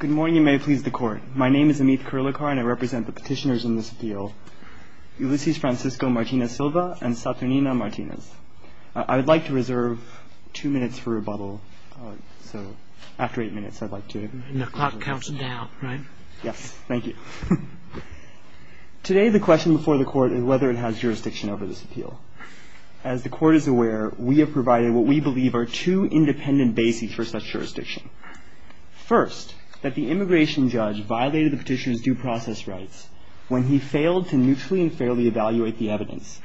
Good morning and may it please the court. My name is Amit Karilakar and I represent the petitioners in this appeal, Ulysses Francisco Martínez Silva and Saturnina Martínez. I would like to reserve two minutes for rebuttal, so after eight minutes I'd like to... And the clock counts down, right? Yes, thank you. Today the question before the court is whether it has jurisdiction over this appeal. As the court is aware, we have provided what we believe are two independent bases for such jurisdiction. First, that the immigration judge violated the petitioner's due process rights when he failed to neutrally and fairly evaluate the evidence,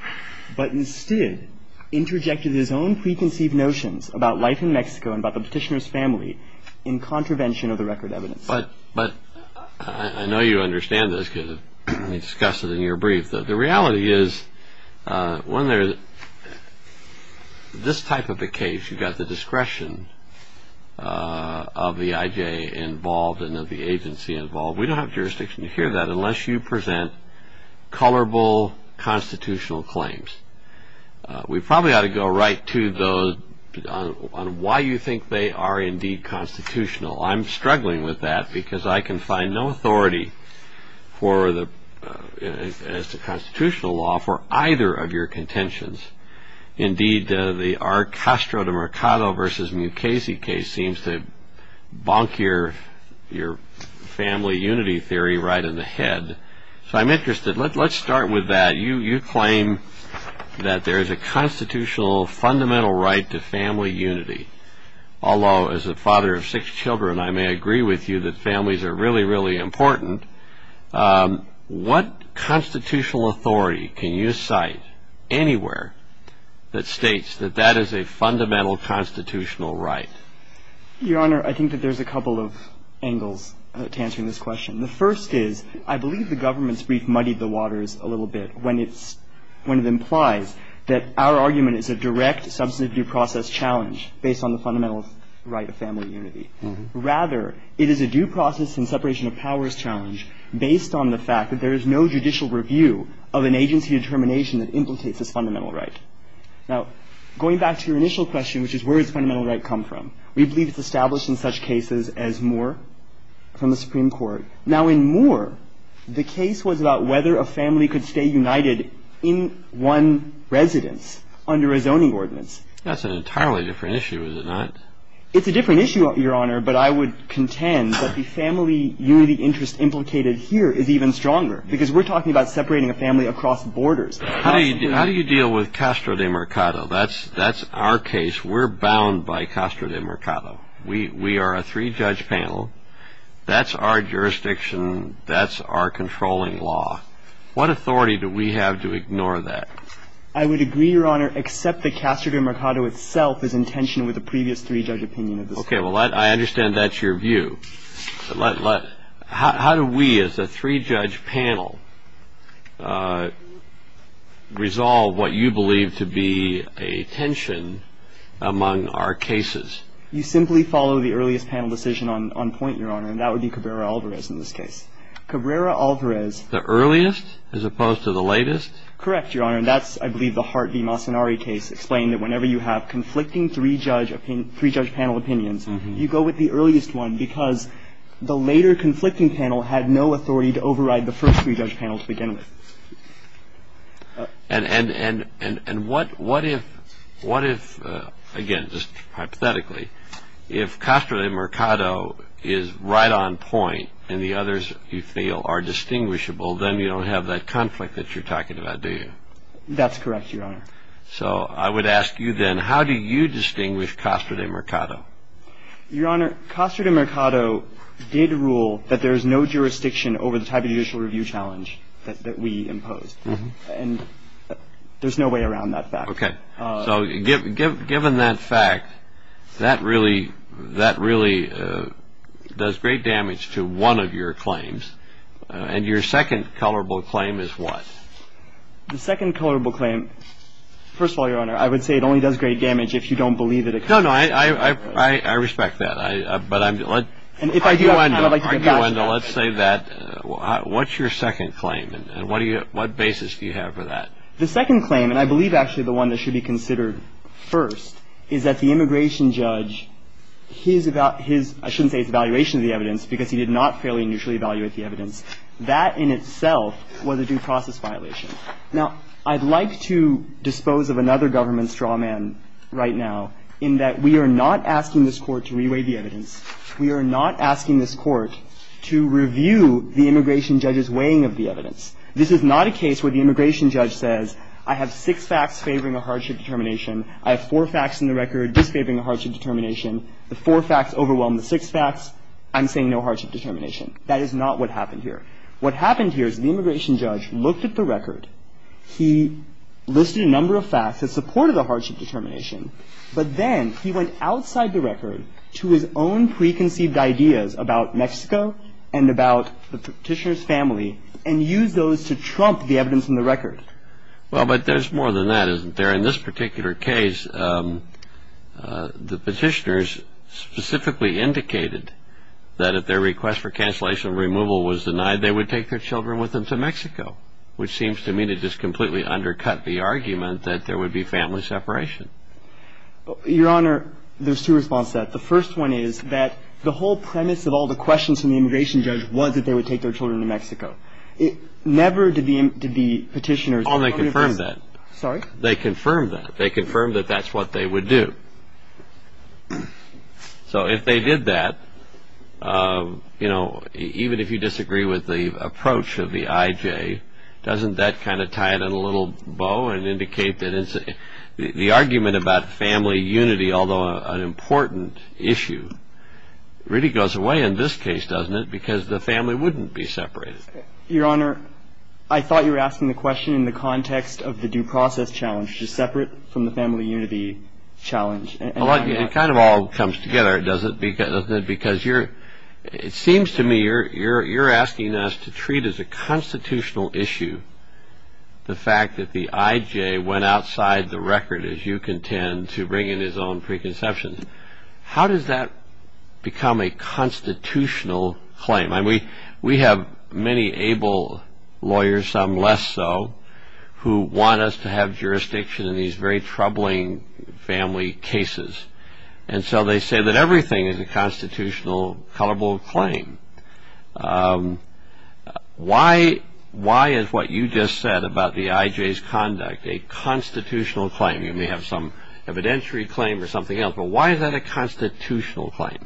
but instead interjected his own preconceived notions about life in Mexico and about the petitioner's family in contravention of the record evidence. But I know you understand this because we discussed it in your brief, but the reality is when there's this type of a case, you've got the discretion of the IJ involved and of the agency involved. We don't have jurisdiction to hear that unless you present colorable constitutional claims. We probably ought to go right to those on why you think they are indeed constitutional. I'm struggling with that because I can find no authority as to constitutional law for either of your contentions. Indeed, the R. Castro de Mercado v. Mukasey case seems to bonk your family unity theory right in the head. So I'm interested. Let's start with that. You claim that there is a constitutional fundamental right to family unity, although as a father of six children, I may agree with you that families are really, really important. What constitutional authority can you cite anywhere that states that that is a fundamental constitutional right? Your Honor, I think that there's a couple of angles to answering this question. The first is I believe the government's brief muddied the waters a little bit when it's when it implies that our argument is a direct substantive due process challenge based on the fundamental right of family unity. Rather, it is a due process and separation of powers challenge based on the fact that there is no judicial review of an agency determination that implicates this fundamental right. Now, going back to your initial question, which is where does fundamental right come from, we believe it's established in such cases as Moore from the Supreme Court. Now, in Moore, the case was about whether a family could stay united in one residence under a zoning ordinance. That's an entirely different issue, is it not? It's a different issue, Your Honor, but I would contend that the family unity interest implicated here is even stronger because we're talking about separating a family across borders. How do you deal with Castro de Mercado? That's our case. We're bound by Castro de Mercado. We are a three-judge panel. That's our jurisdiction. That's our controlling law. What authority do we have to ignore that? I would agree, Your Honor, except that Castro de Mercado itself is in tension with the previous three-judge opinion of the Supreme Court. Okay. Well, I understand that's your view. How do we as a three-judge panel resolve what you believe to be a tension among our cases? You simply follow the earliest panel decision on point, Your Honor, and that would be Cabrera-Alvarez in this case. Cabrera-Alvarez. The earliest as opposed to the latest? Correct, Your Honor, and that's, I believe, the Hart v. Massonari case, explaining that whenever you have conflicting three-judge panel opinions, you go with the earliest one because the later conflicting panel had no authority to override the first three-judge panel to begin with. And what if, again, just hypothetically, if Castro de Mercado is right on point and the others, you feel, are distinguishable, then you don't have that conflict that you're talking about, do you? That's correct, Your Honor. So I would ask you then, how do you distinguish Castro de Mercado? Your Honor, Castro de Mercado did rule that there is no jurisdiction over the type of judicial review challenge that we imposed, and there's no way around that fact. Okay. So given that fact, that really does great damage to one of your claims. And your second colorable claim is what? The second colorable claim, first of all, Your Honor, I would say it only does great damage if you don't believe it. No, no, I respect that. But I'm going to let you end on that. Let's say that. What's your second claim, and what basis do you have for that? The second claim, and I believe actually the one that should be considered first, is that the immigration judge, his evaluation of the evidence, because he did not fairly and usually evaluate the evidence, that in itself was a due process violation. Now, I'd like to dispose of another government straw man right now, in that we are not asking this Court to reweigh the evidence. We are not asking this Court to review the immigration judge's weighing of the evidence. This is not a case where the immigration judge says, I have six facts favoring a hardship determination. I have four facts in the record disfavoring a hardship determination. The four facts overwhelm the six facts. I'm saying no hardship determination. That is not what happened here. What happened here is the immigration judge looked at the record. He listed a number of facts that supported a hardship determination. But then he went outside the record to his own preconceived ideas about Mexico and about the petitioner's family and used those to trump the evidence in the record. Well, but there's more than that, isn't there? In this particular case, the petitioners specifically indicated that if their request for cancellation or removal was denied, they would take their children with them to Mexico, which seems to me to just completely undercut the argument that there would be family separation. Your Honor, there's two responses to that. The first one is that the whole premise of all the questions from the immigration judge was that they would take their children to Mexico. It never did the petitioners. Oh, they confirmed that. Sorry? They confirmed that. They confirmed that that's what they would do. So if they did that, you know, even if you disagree with the approach of the IJ, doesn't that kind of tie it in a little bow and indicate that the argument about family unity, although an important issue, really goes away in this case, doesn't it, because the family wouldn't be separated? Your Honor, I thought you were asking the question in the context of the due process challenge, which is separate from the family unity challenge. It kind of all comes together, doesn't it, because it seems to me you're asking us to treat as a constitutional issue the fact that the IJ went outside the record, as you contend, to bring in his own preconceptions. How does that become a constitutional claim? I mean, we have many able lawyers, some less so, who want us to have jurisdiction in these very troubling family cases. And so they say that everything is a constitutional, colorable claim. Why is what you just said about the IJ's conduct a constitutional claim? You may have some evidentiary claim or something else, but why is that a constitutional claim?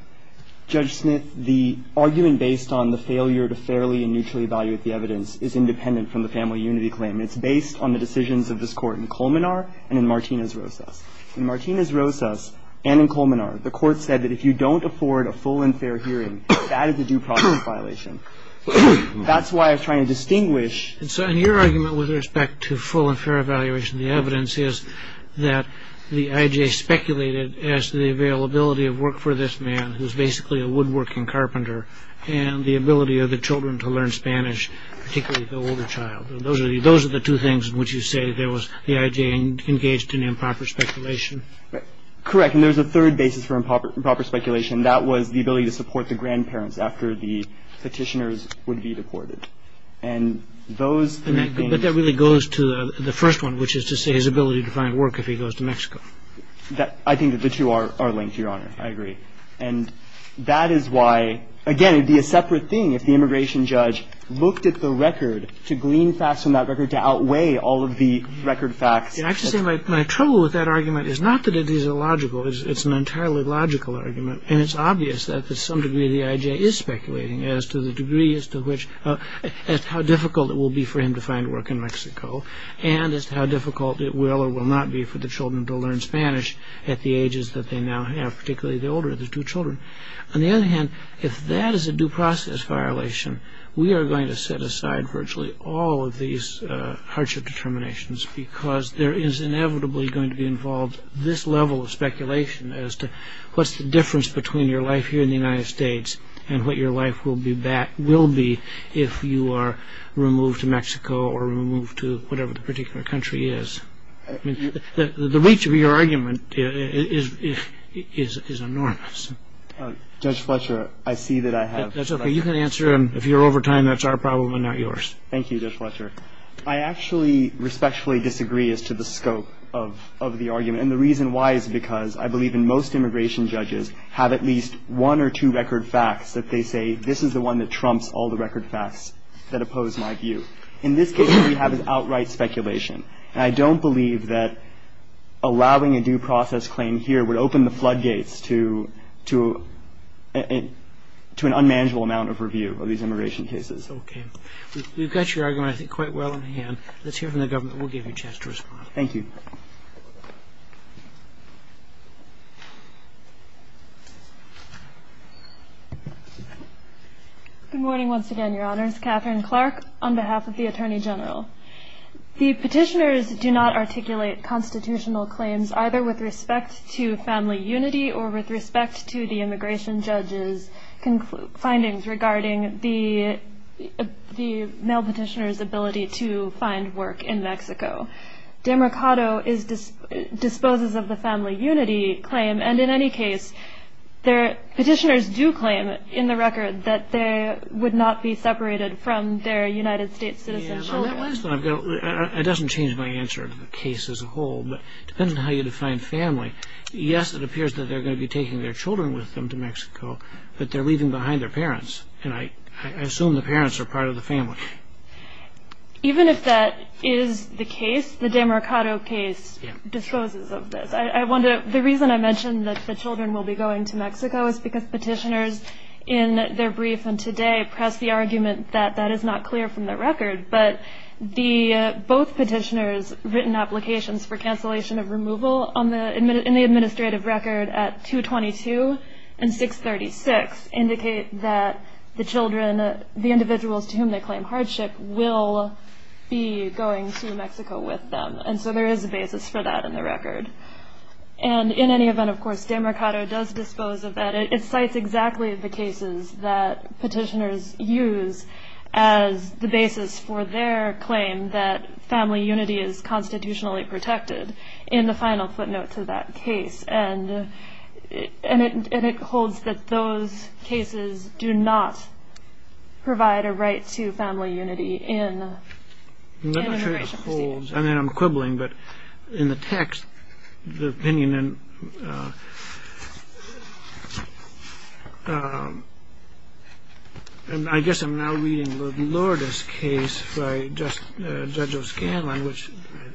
Judge Smith, the argument based on the failure to fairly and neutrally evaluate the evidence is independent from the family unity claim. It's based on the decisions of this Court in Colmenar and in Martinez-Rosas. In Martinez-Rosas and in Colmenar, the Court said that if you don't afford a full and fair hearing, that is a due process violation. That's why I'm trying to distinguish. And so in your argument with respect to full and fair evaluation, the evidence is that the IJ speculated as to the availability of work for this man, who's basically a woodworking carpenter, and the ability of the children to learn Spanish, particularly the older child. Those are the two things in which you say the IJ engaged in improper speculation. Correct, and there's a third basis for improper speculation. That was the ability to support the grandparents after the petitioners would be deported. But that really goes to the first one, which is to say his ability to find work if he goes to Mexico. I think that the two are linked, Your Honor. I agree. And that is why, again, it would be a separate thing if the immigration judge looked at the record to glean facts from that record to outweigh all of the record facts. I have to say my trouble with that argument is not that it is illogical. It's an entirely logical argument, and it's obvious that to some degree the IJ is speculating as to the degree as to which as to how difficult it will be for him to find work in Mexico and as to how difficult it will or will not be for the children to learn Spanish at the ages that they now have, particularly the older of the two children. On the other hand, if that is a due process violation, we are going to set aside virtually all of these hardship determinations because there is inevitably going to be involved this level of speculation as to what's the difference between your life here in the United States and what your life will be if you are removed to Mexico or removed to whatever the particular country is. The reach of your argument is enormous. Judge Fletcher, I see that I have That's okay. You can answer. If you're over time, that's our problem and not yours. Thank you, Judge Fletcher. I actually respectfully disagree as to the scope of the argument, and the reason why is because I believe in most immigration judges have at least one or two record facts that they say, this is the one that trumps all the record facts that oppose my view. In this case, what we have is outright speculation, and I don't believe that allowing a due process claim here would open the floodgates to an unmanageable amount of review of these immigration cases. Okay. We've got your argument, I think, quite well in hand. Let's hear from the government. We'll give you a chance to respond. Thank you. Good morning once again, Your Honors. Katherine Clark on behalf of the Attorney General. The petitioners do not articulate constitutional claims, either with respect to family unity or with respect to the immigration judge's findings regarding the male petitioner's ability to find work in Mexico. Demarcado disposes of the family unity claim, and in any case, petitioners do claim in the record that they would not be separated from their United States citizens. It doesn't change my answer to the case as a whole, but it depends on how you define family. Yes, it appears that they're going to be taking their children with them to Mexico, but they're leaving behind their parents, and I assume the parents are part of the family. Even if that is the case, the Demarcado case disposes of this. The reason I mentioned that the children will be going to Mexico is because petitioners in their brief and today pressed the argument that that is not clear from their record, but both petitioners' written applications for cancellation of removal in the administrative record at 222 and 636 indicate that the children, the individuals to whom they claim hardship, will be going to Mexico with them, and so there is a basis for that in the record. And in any event, of course, Demarcado does dispose of that. It cites exactly the cases that petitioners use as the basis for their claim that family unity is constitutionally protected in the final footnote to that case, and it holds that those cases do not provide a right to family unity in immigration proceedings. I'm quibbling, but in the text, the opinion in... I guess I'm now reading Lourdes' case by Judge O'Scanlan, which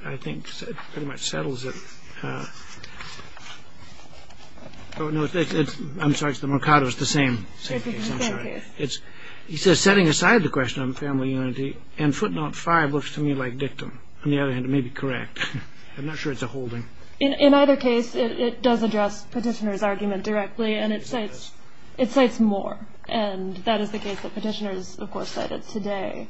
I think pretty much settles it. I'm sorry, it's Demarcado's, the same case, I'm sorry. It's the same case. He says, setting aside the question of family unity, and footnote 5 looks to me like dictum. On the other hand, it may be correct. I'm not sure it's a holding. In either case, it does address petitioners' argument directly, and it cites more, and that is the case that petitioners, of course, cited today.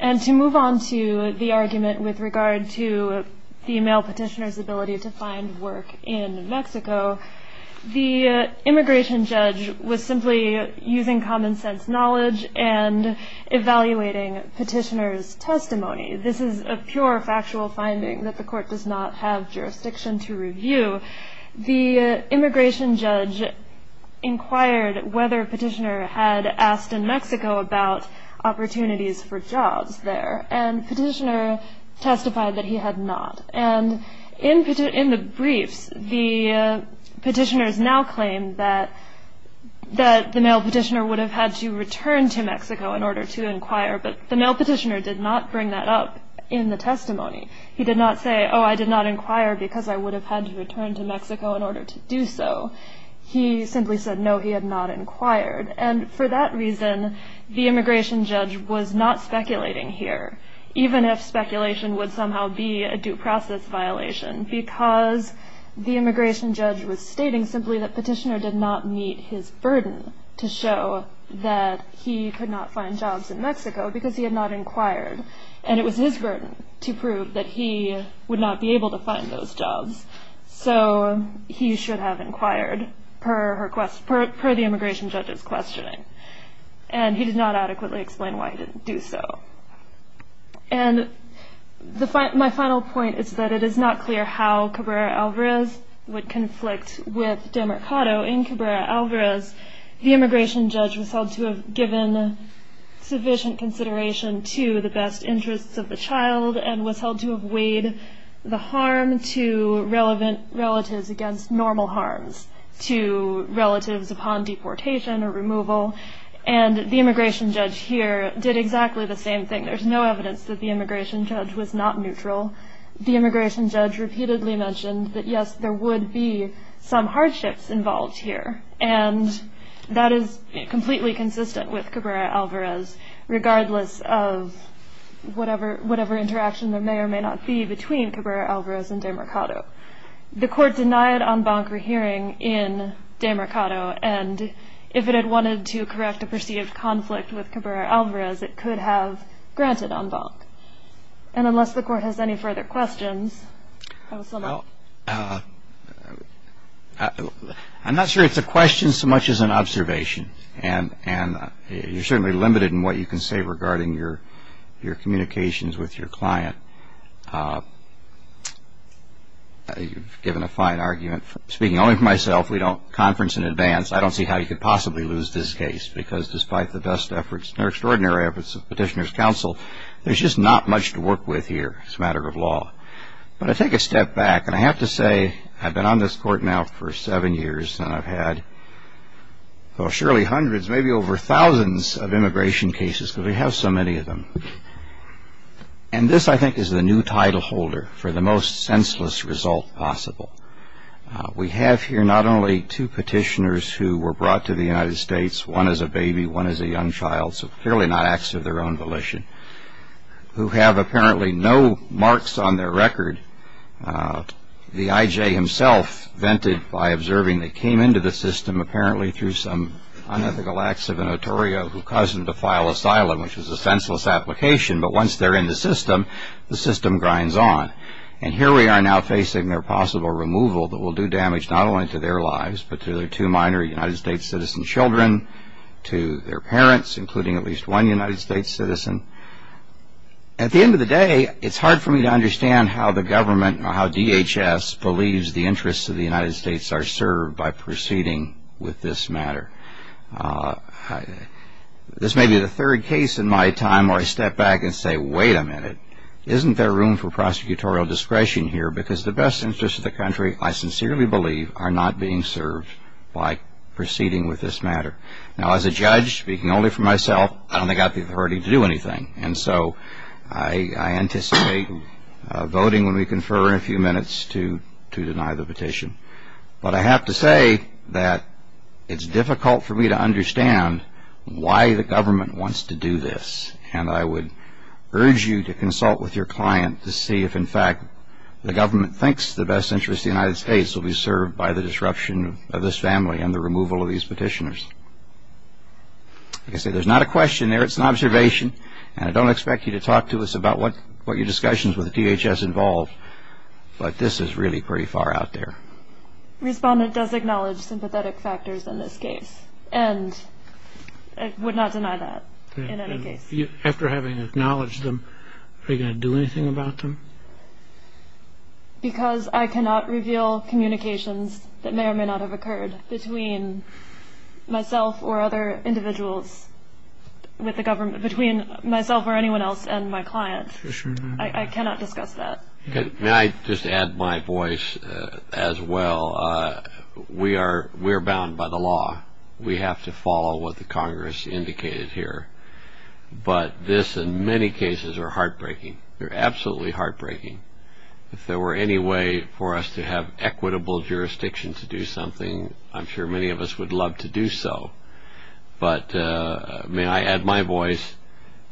And to move on to the argument with regard to female petitioners' ability to find work in Mexico, the immigration judge was simply using common sense knowledge and evaluating petitioners' testimony. This is a pure factual finding that the court does not have jurisdiction to review. The immigration judge inquired whether a petitioner had asked in Mexico about opportunities for jobs there, and the petitioner testified that he had not. And in the briefs, the petitioners now claim that the male petitioner would have had to return to Mexico in order to inquire, but the male petitioner did not bring that up in the testimony. He did not say, oh, I did not inquire because I would have had to return to Mexico in order to do so. He simply said, no, he had not inquired. And for that reason, the immigration judge was not speculating here, even if speculation would somehow be a due process violation, because the immigration judge was stating simply that petitioner did not meet his burden to show that he could not find jobs in Mexico because he had not inquired, and it was his burden to prove that he would not be able to find those jobs. So he should have inquired, per the immigration judge's questioning. And he did not adequately explain why he didn't do so. And my final point is that it is not clear how Cabrera-Alvarez would conflict with Demarcado. In Cabrera-Alvarez, the immigration judge was held to have given sufficient consideration to the best interests of the child and was held to have weighed the harm to relevant relatives against normal harms to relatives upon deportation or removal. And the immigration judge here did exactly the same thing. There's no evidence that the immigration judge was not neutral. The immigration judge repeatedly mentioned that, yes, there would be some hardships involved here, and that is completely consistent with Cabrera-Alvarez, regardless of whatever interaction there may or may not be between Cabrera-Alvarez and Demarcado. The court denied en banc a hearing in Demarcado, and if it had wanted to correct a perceived conflict with Cabrera-Alvarez, it could have granted en banc. And unless the court has any further questions, counsel. Well, I'm not sure it's a question so much as an observation. And you're certainly limited in what you can say regarding your communications with your client. You've given a fine argument. Speaking only for myself, we don't conference in advance. I don't see how you could possibly lose this case because despite the best efforts and extraordinary efforts of petitioners' counsel, there's just not much to work with here as a matter of law. But I take a step back, and I have to say I've been on this court now for seven years, and I've had surely hundreds, maybe over thousands of immigration cases because we have so many of them. And this, I think, is the new title holder for the most senseless result possible. We have here not only two petitioners who were brought to the United States, one as a baby, one as a young child, so clearly not acts of their own volition, who have apparently no marks on their record. The I.J. himself vented by observing they came into the system apparently through some unethical acts of a notorio who caused them to file asylum, which was a senseless application. But once they're in the system, the system grinds on. And here we are now facing their possible removal that will do damage not only to their lives but to their two minor United States citizen children, to their parents, including at least one United States citizen. At the end of the day, it's hard for me to understand how the government or how DHS believes the interests of the United States are served by proceeding with this matter. This may be the third case in my time where I step back and say, wait a minute. Isn't there room for prosecutorial discretion here? Because the best interests of the country, I sincerely believe, are not being served by proceeding with this matter. Now, as a judge, speaking only for myself, I don't think I have the authority to do anything. And so I anticipate voting when we confer in a few minutes to deny the petition. But I have to say that it's difficult for me to understand why the government wants to do this. And I would urge you to consult with your client to see if, in fact, the government thinks the best interests of the United States will be served by the disruption of this family and the removal of these petitioners. Like I said, there's not a question there. It's an observation. And I don't expect you to talk to us about what your discussions with DHS involve. But this is really pretty far out there. Respondent does acknowledge sympathetic factors in this case and would not deny that in any case. After having acknowledged them, are you going to do anything about them? Because I cannot reveal communications that may or may not have occurred between myself or other individuals with the government, between myself or anyone else and my client. I cannot discuss that. May I just add my voice as well? We are bound by the law. We have to follow what the Congress indicated here. But this, in many cases, are heartbreaking. They're absolutely heartbreaking. If there were any way for us to have equitable jurisdiction to do something, I'm sure many of us would love to do so. But may I add my voice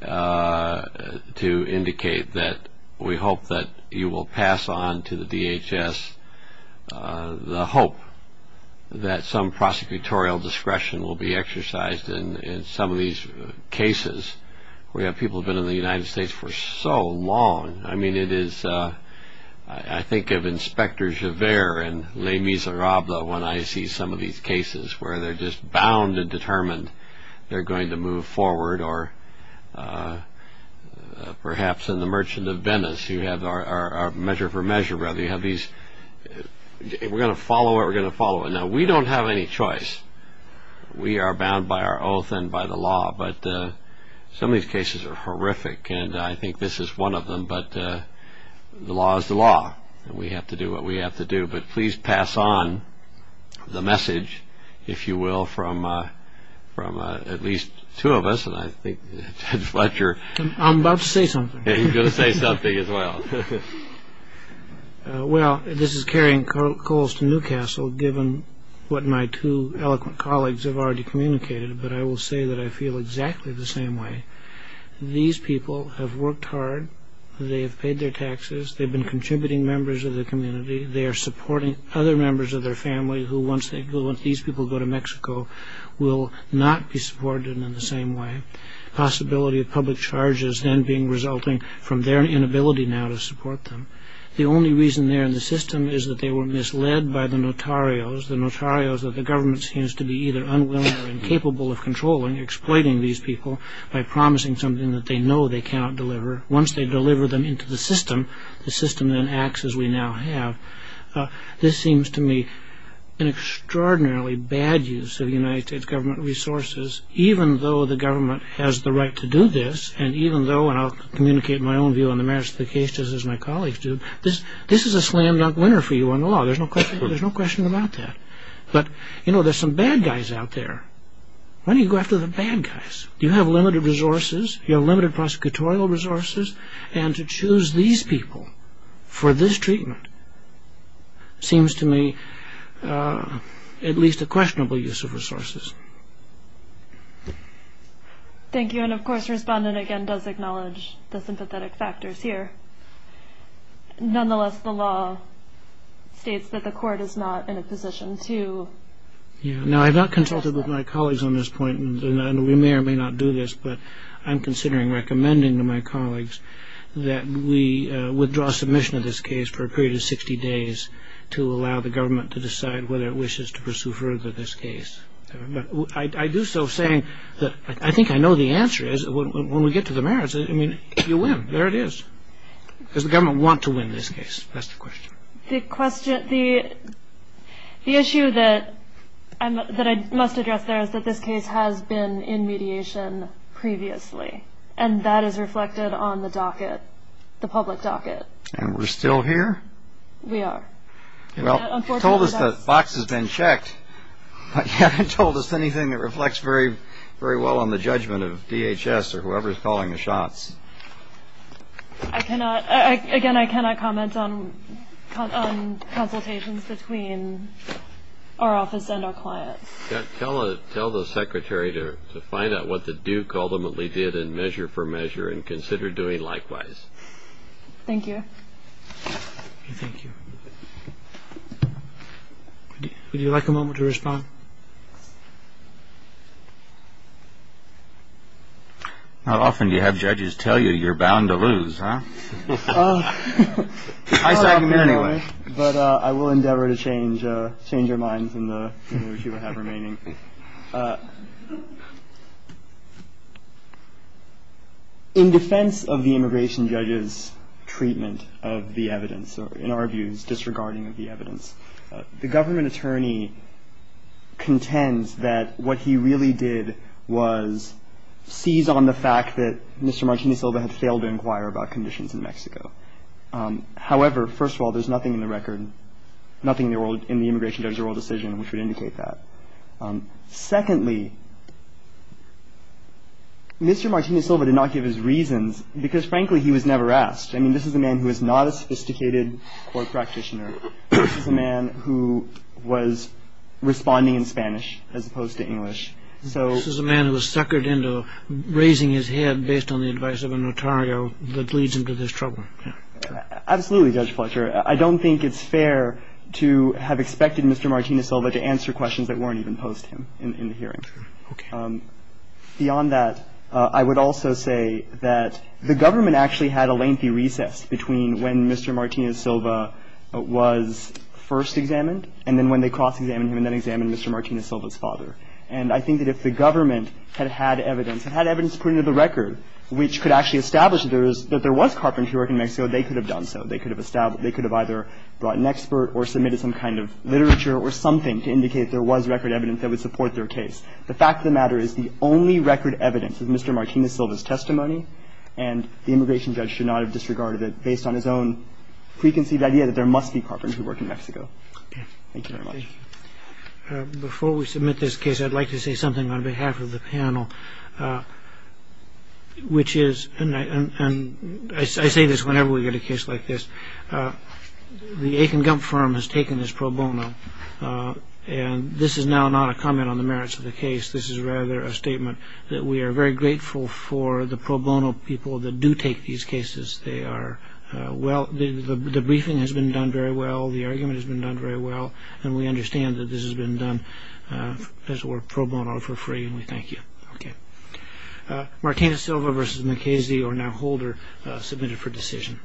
to indicate that we hope that you will pass on to the DHS the hope that some prosecutorial discretion will be exercised in some of these cases where you have people who have been in the United States for so long. I mean, it is ‑‑ I think of Inspector Giver and Le Miserable when I see some of these cases where they're just bound and determined they're going to move forward. Or perhaps in the Merchant of Venice, you have our measure for measure. We're going to follow what we're going to follow. Now, we don't have any choice. We are bound by our oath and by the law. But some of these cases are horrific, and I think this is one of them. But the law is the law, and we have to do what we have to do. But please pass on the message, if you will, from at least two of us, and I think Judge Fletcher. I'm about to say something. You're going to say something as well. Well, this is carrying coals to Newcastle, given what my two eloquent colleagues have already communicated. But I will say that I feel exactly the same way. These people have worked hard. They have paid their taxes. They've been contributing members of their community. They are supporting other members of their family who, once these people go to Mexico, will not be supported in the same way. The possibility of public charges then being resulting from their inability now to support them. The only reason they're in the system is that they were misled by the notarios, the notarios that the government seems to be either unwilling or incapable of controlling, exploiting these people by promising something that they know they cannot deliver. Once they deliver them into the system, the system then acts as we now have. This seems to me an extraordinarily bad use of United States government resources, even though the government has the right to do this, and even though, and I'll communicate my own view on the merits of the case just as my colleagues do, this is a slam-dunk winner for you under law. There's no question about that. But, you know, there's some bad guys out there. Why do you go after the bad guys? You have limited resources. You have limited prosecutorial resources. And to choose these people for this treatment seems to me at least a questionable use of resources. Thank you. And, of course, the respondent, again, does acknowledge the sympathetic factors here. Nonetheless, the law states that the court is not in a position to... Yeah. Now, I've not consulted with my colleagues on this point, and we may or may not do this, but I'm considering recommending to my colleagues that we withdraw submission of this case for a period of 60 days to allow the government to decide whether it wishes to pursue further this case. But I do so saying that I think I know the answer is when we get to the merits, I mean, you win. There it is. Does the government want to win this case? That's the question. The issue that I must address there is that this case has been in mediation previously, and that is reflected on the docket, the public docket. And we're still here? We are. Well, you told us the box has been checked, but you haven't told us anything that reflects very well on the judgment of DHS or whoever is calling the shots. I cannot. Again, I cannot comment on consultations between our office and our clients. Tell the secretary to find out what the Duke ultimately did in measure for measure and consider doing likewise. Thank you. Thank you. Would you like a moment to respond? How often do you have judges tell you you're bound to lose? I said anyway, but I will endeavor to change, change your minds in the remaining. In defense of the immigration judges, treatment of the evidence in our views, the government attorney contends that what he really did was seize on the fact that Mr. Martini Silva had failed to inquire about conditions in Mexico. However, first of all, there's nothing in the record, nothing in the immigration judge's oral decision which would indicate that. Secondly, Mr. Martini Silva did not give his reasons because, frankly, he was never asked. I mean, this is a man who is not a sophisticated court practitioner. This is a man who was responding in Spanish as opposed to English. This is a man who was suckered into raising his head based on the advice of a notario that leads him to this trouble. Absolutely, Judge Fletcher. I don't think it's fair to have expected Mr. Martini Silva to answer questions that weren't even posed to him in the hearing. Okay. Beyond that, I would also say that the government actually had a lengthy recess between when Mr. Martini Silva was first examined and then when they cross-examined him and then examined Mr. Martini Silva's father. And I think that if the government had had evidence, had evidence put into the record which could actually establish that there was carpentry work in Mexico, they could have done so. They could have either brought an expert or submitted some kind of literature or something to indicate there was record evidence that would support their case. The fact of the matter is the only record evidence is Mr. Martini Silva's testimony and the immigration judge should not have disregarded it based on his own preconceived idea that there must be carpentry work in Mexico. Thank you very much. Before we submit this case, I'd like to say something on behalf of the panel, which is and I say this whenever we get a case like this, the Aiken Gump firm has taken this pro bono and this is now not a comment on the merits of the case, this is rather a statement that we are very grateful for the pro bono people that do take these cases. They are well, the briefing has been done very well, the argument has been done very well and we understand that this has been done, as it were, pro bono for free and we thank you. Okay. Martini Silva versus McKenzie or now Holder submitted for decision.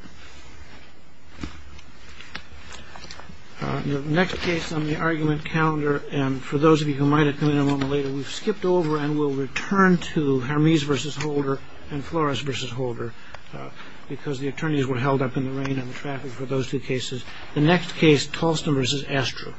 The next case on the argument calendar and for those of you who might have come in a moment later, we've skipped over and we'll return to Hermes versus Holder and Flores versus Holder because the attorneys were held up in the rain and the traffic for those two cases. The next case, Tolson versus Astro.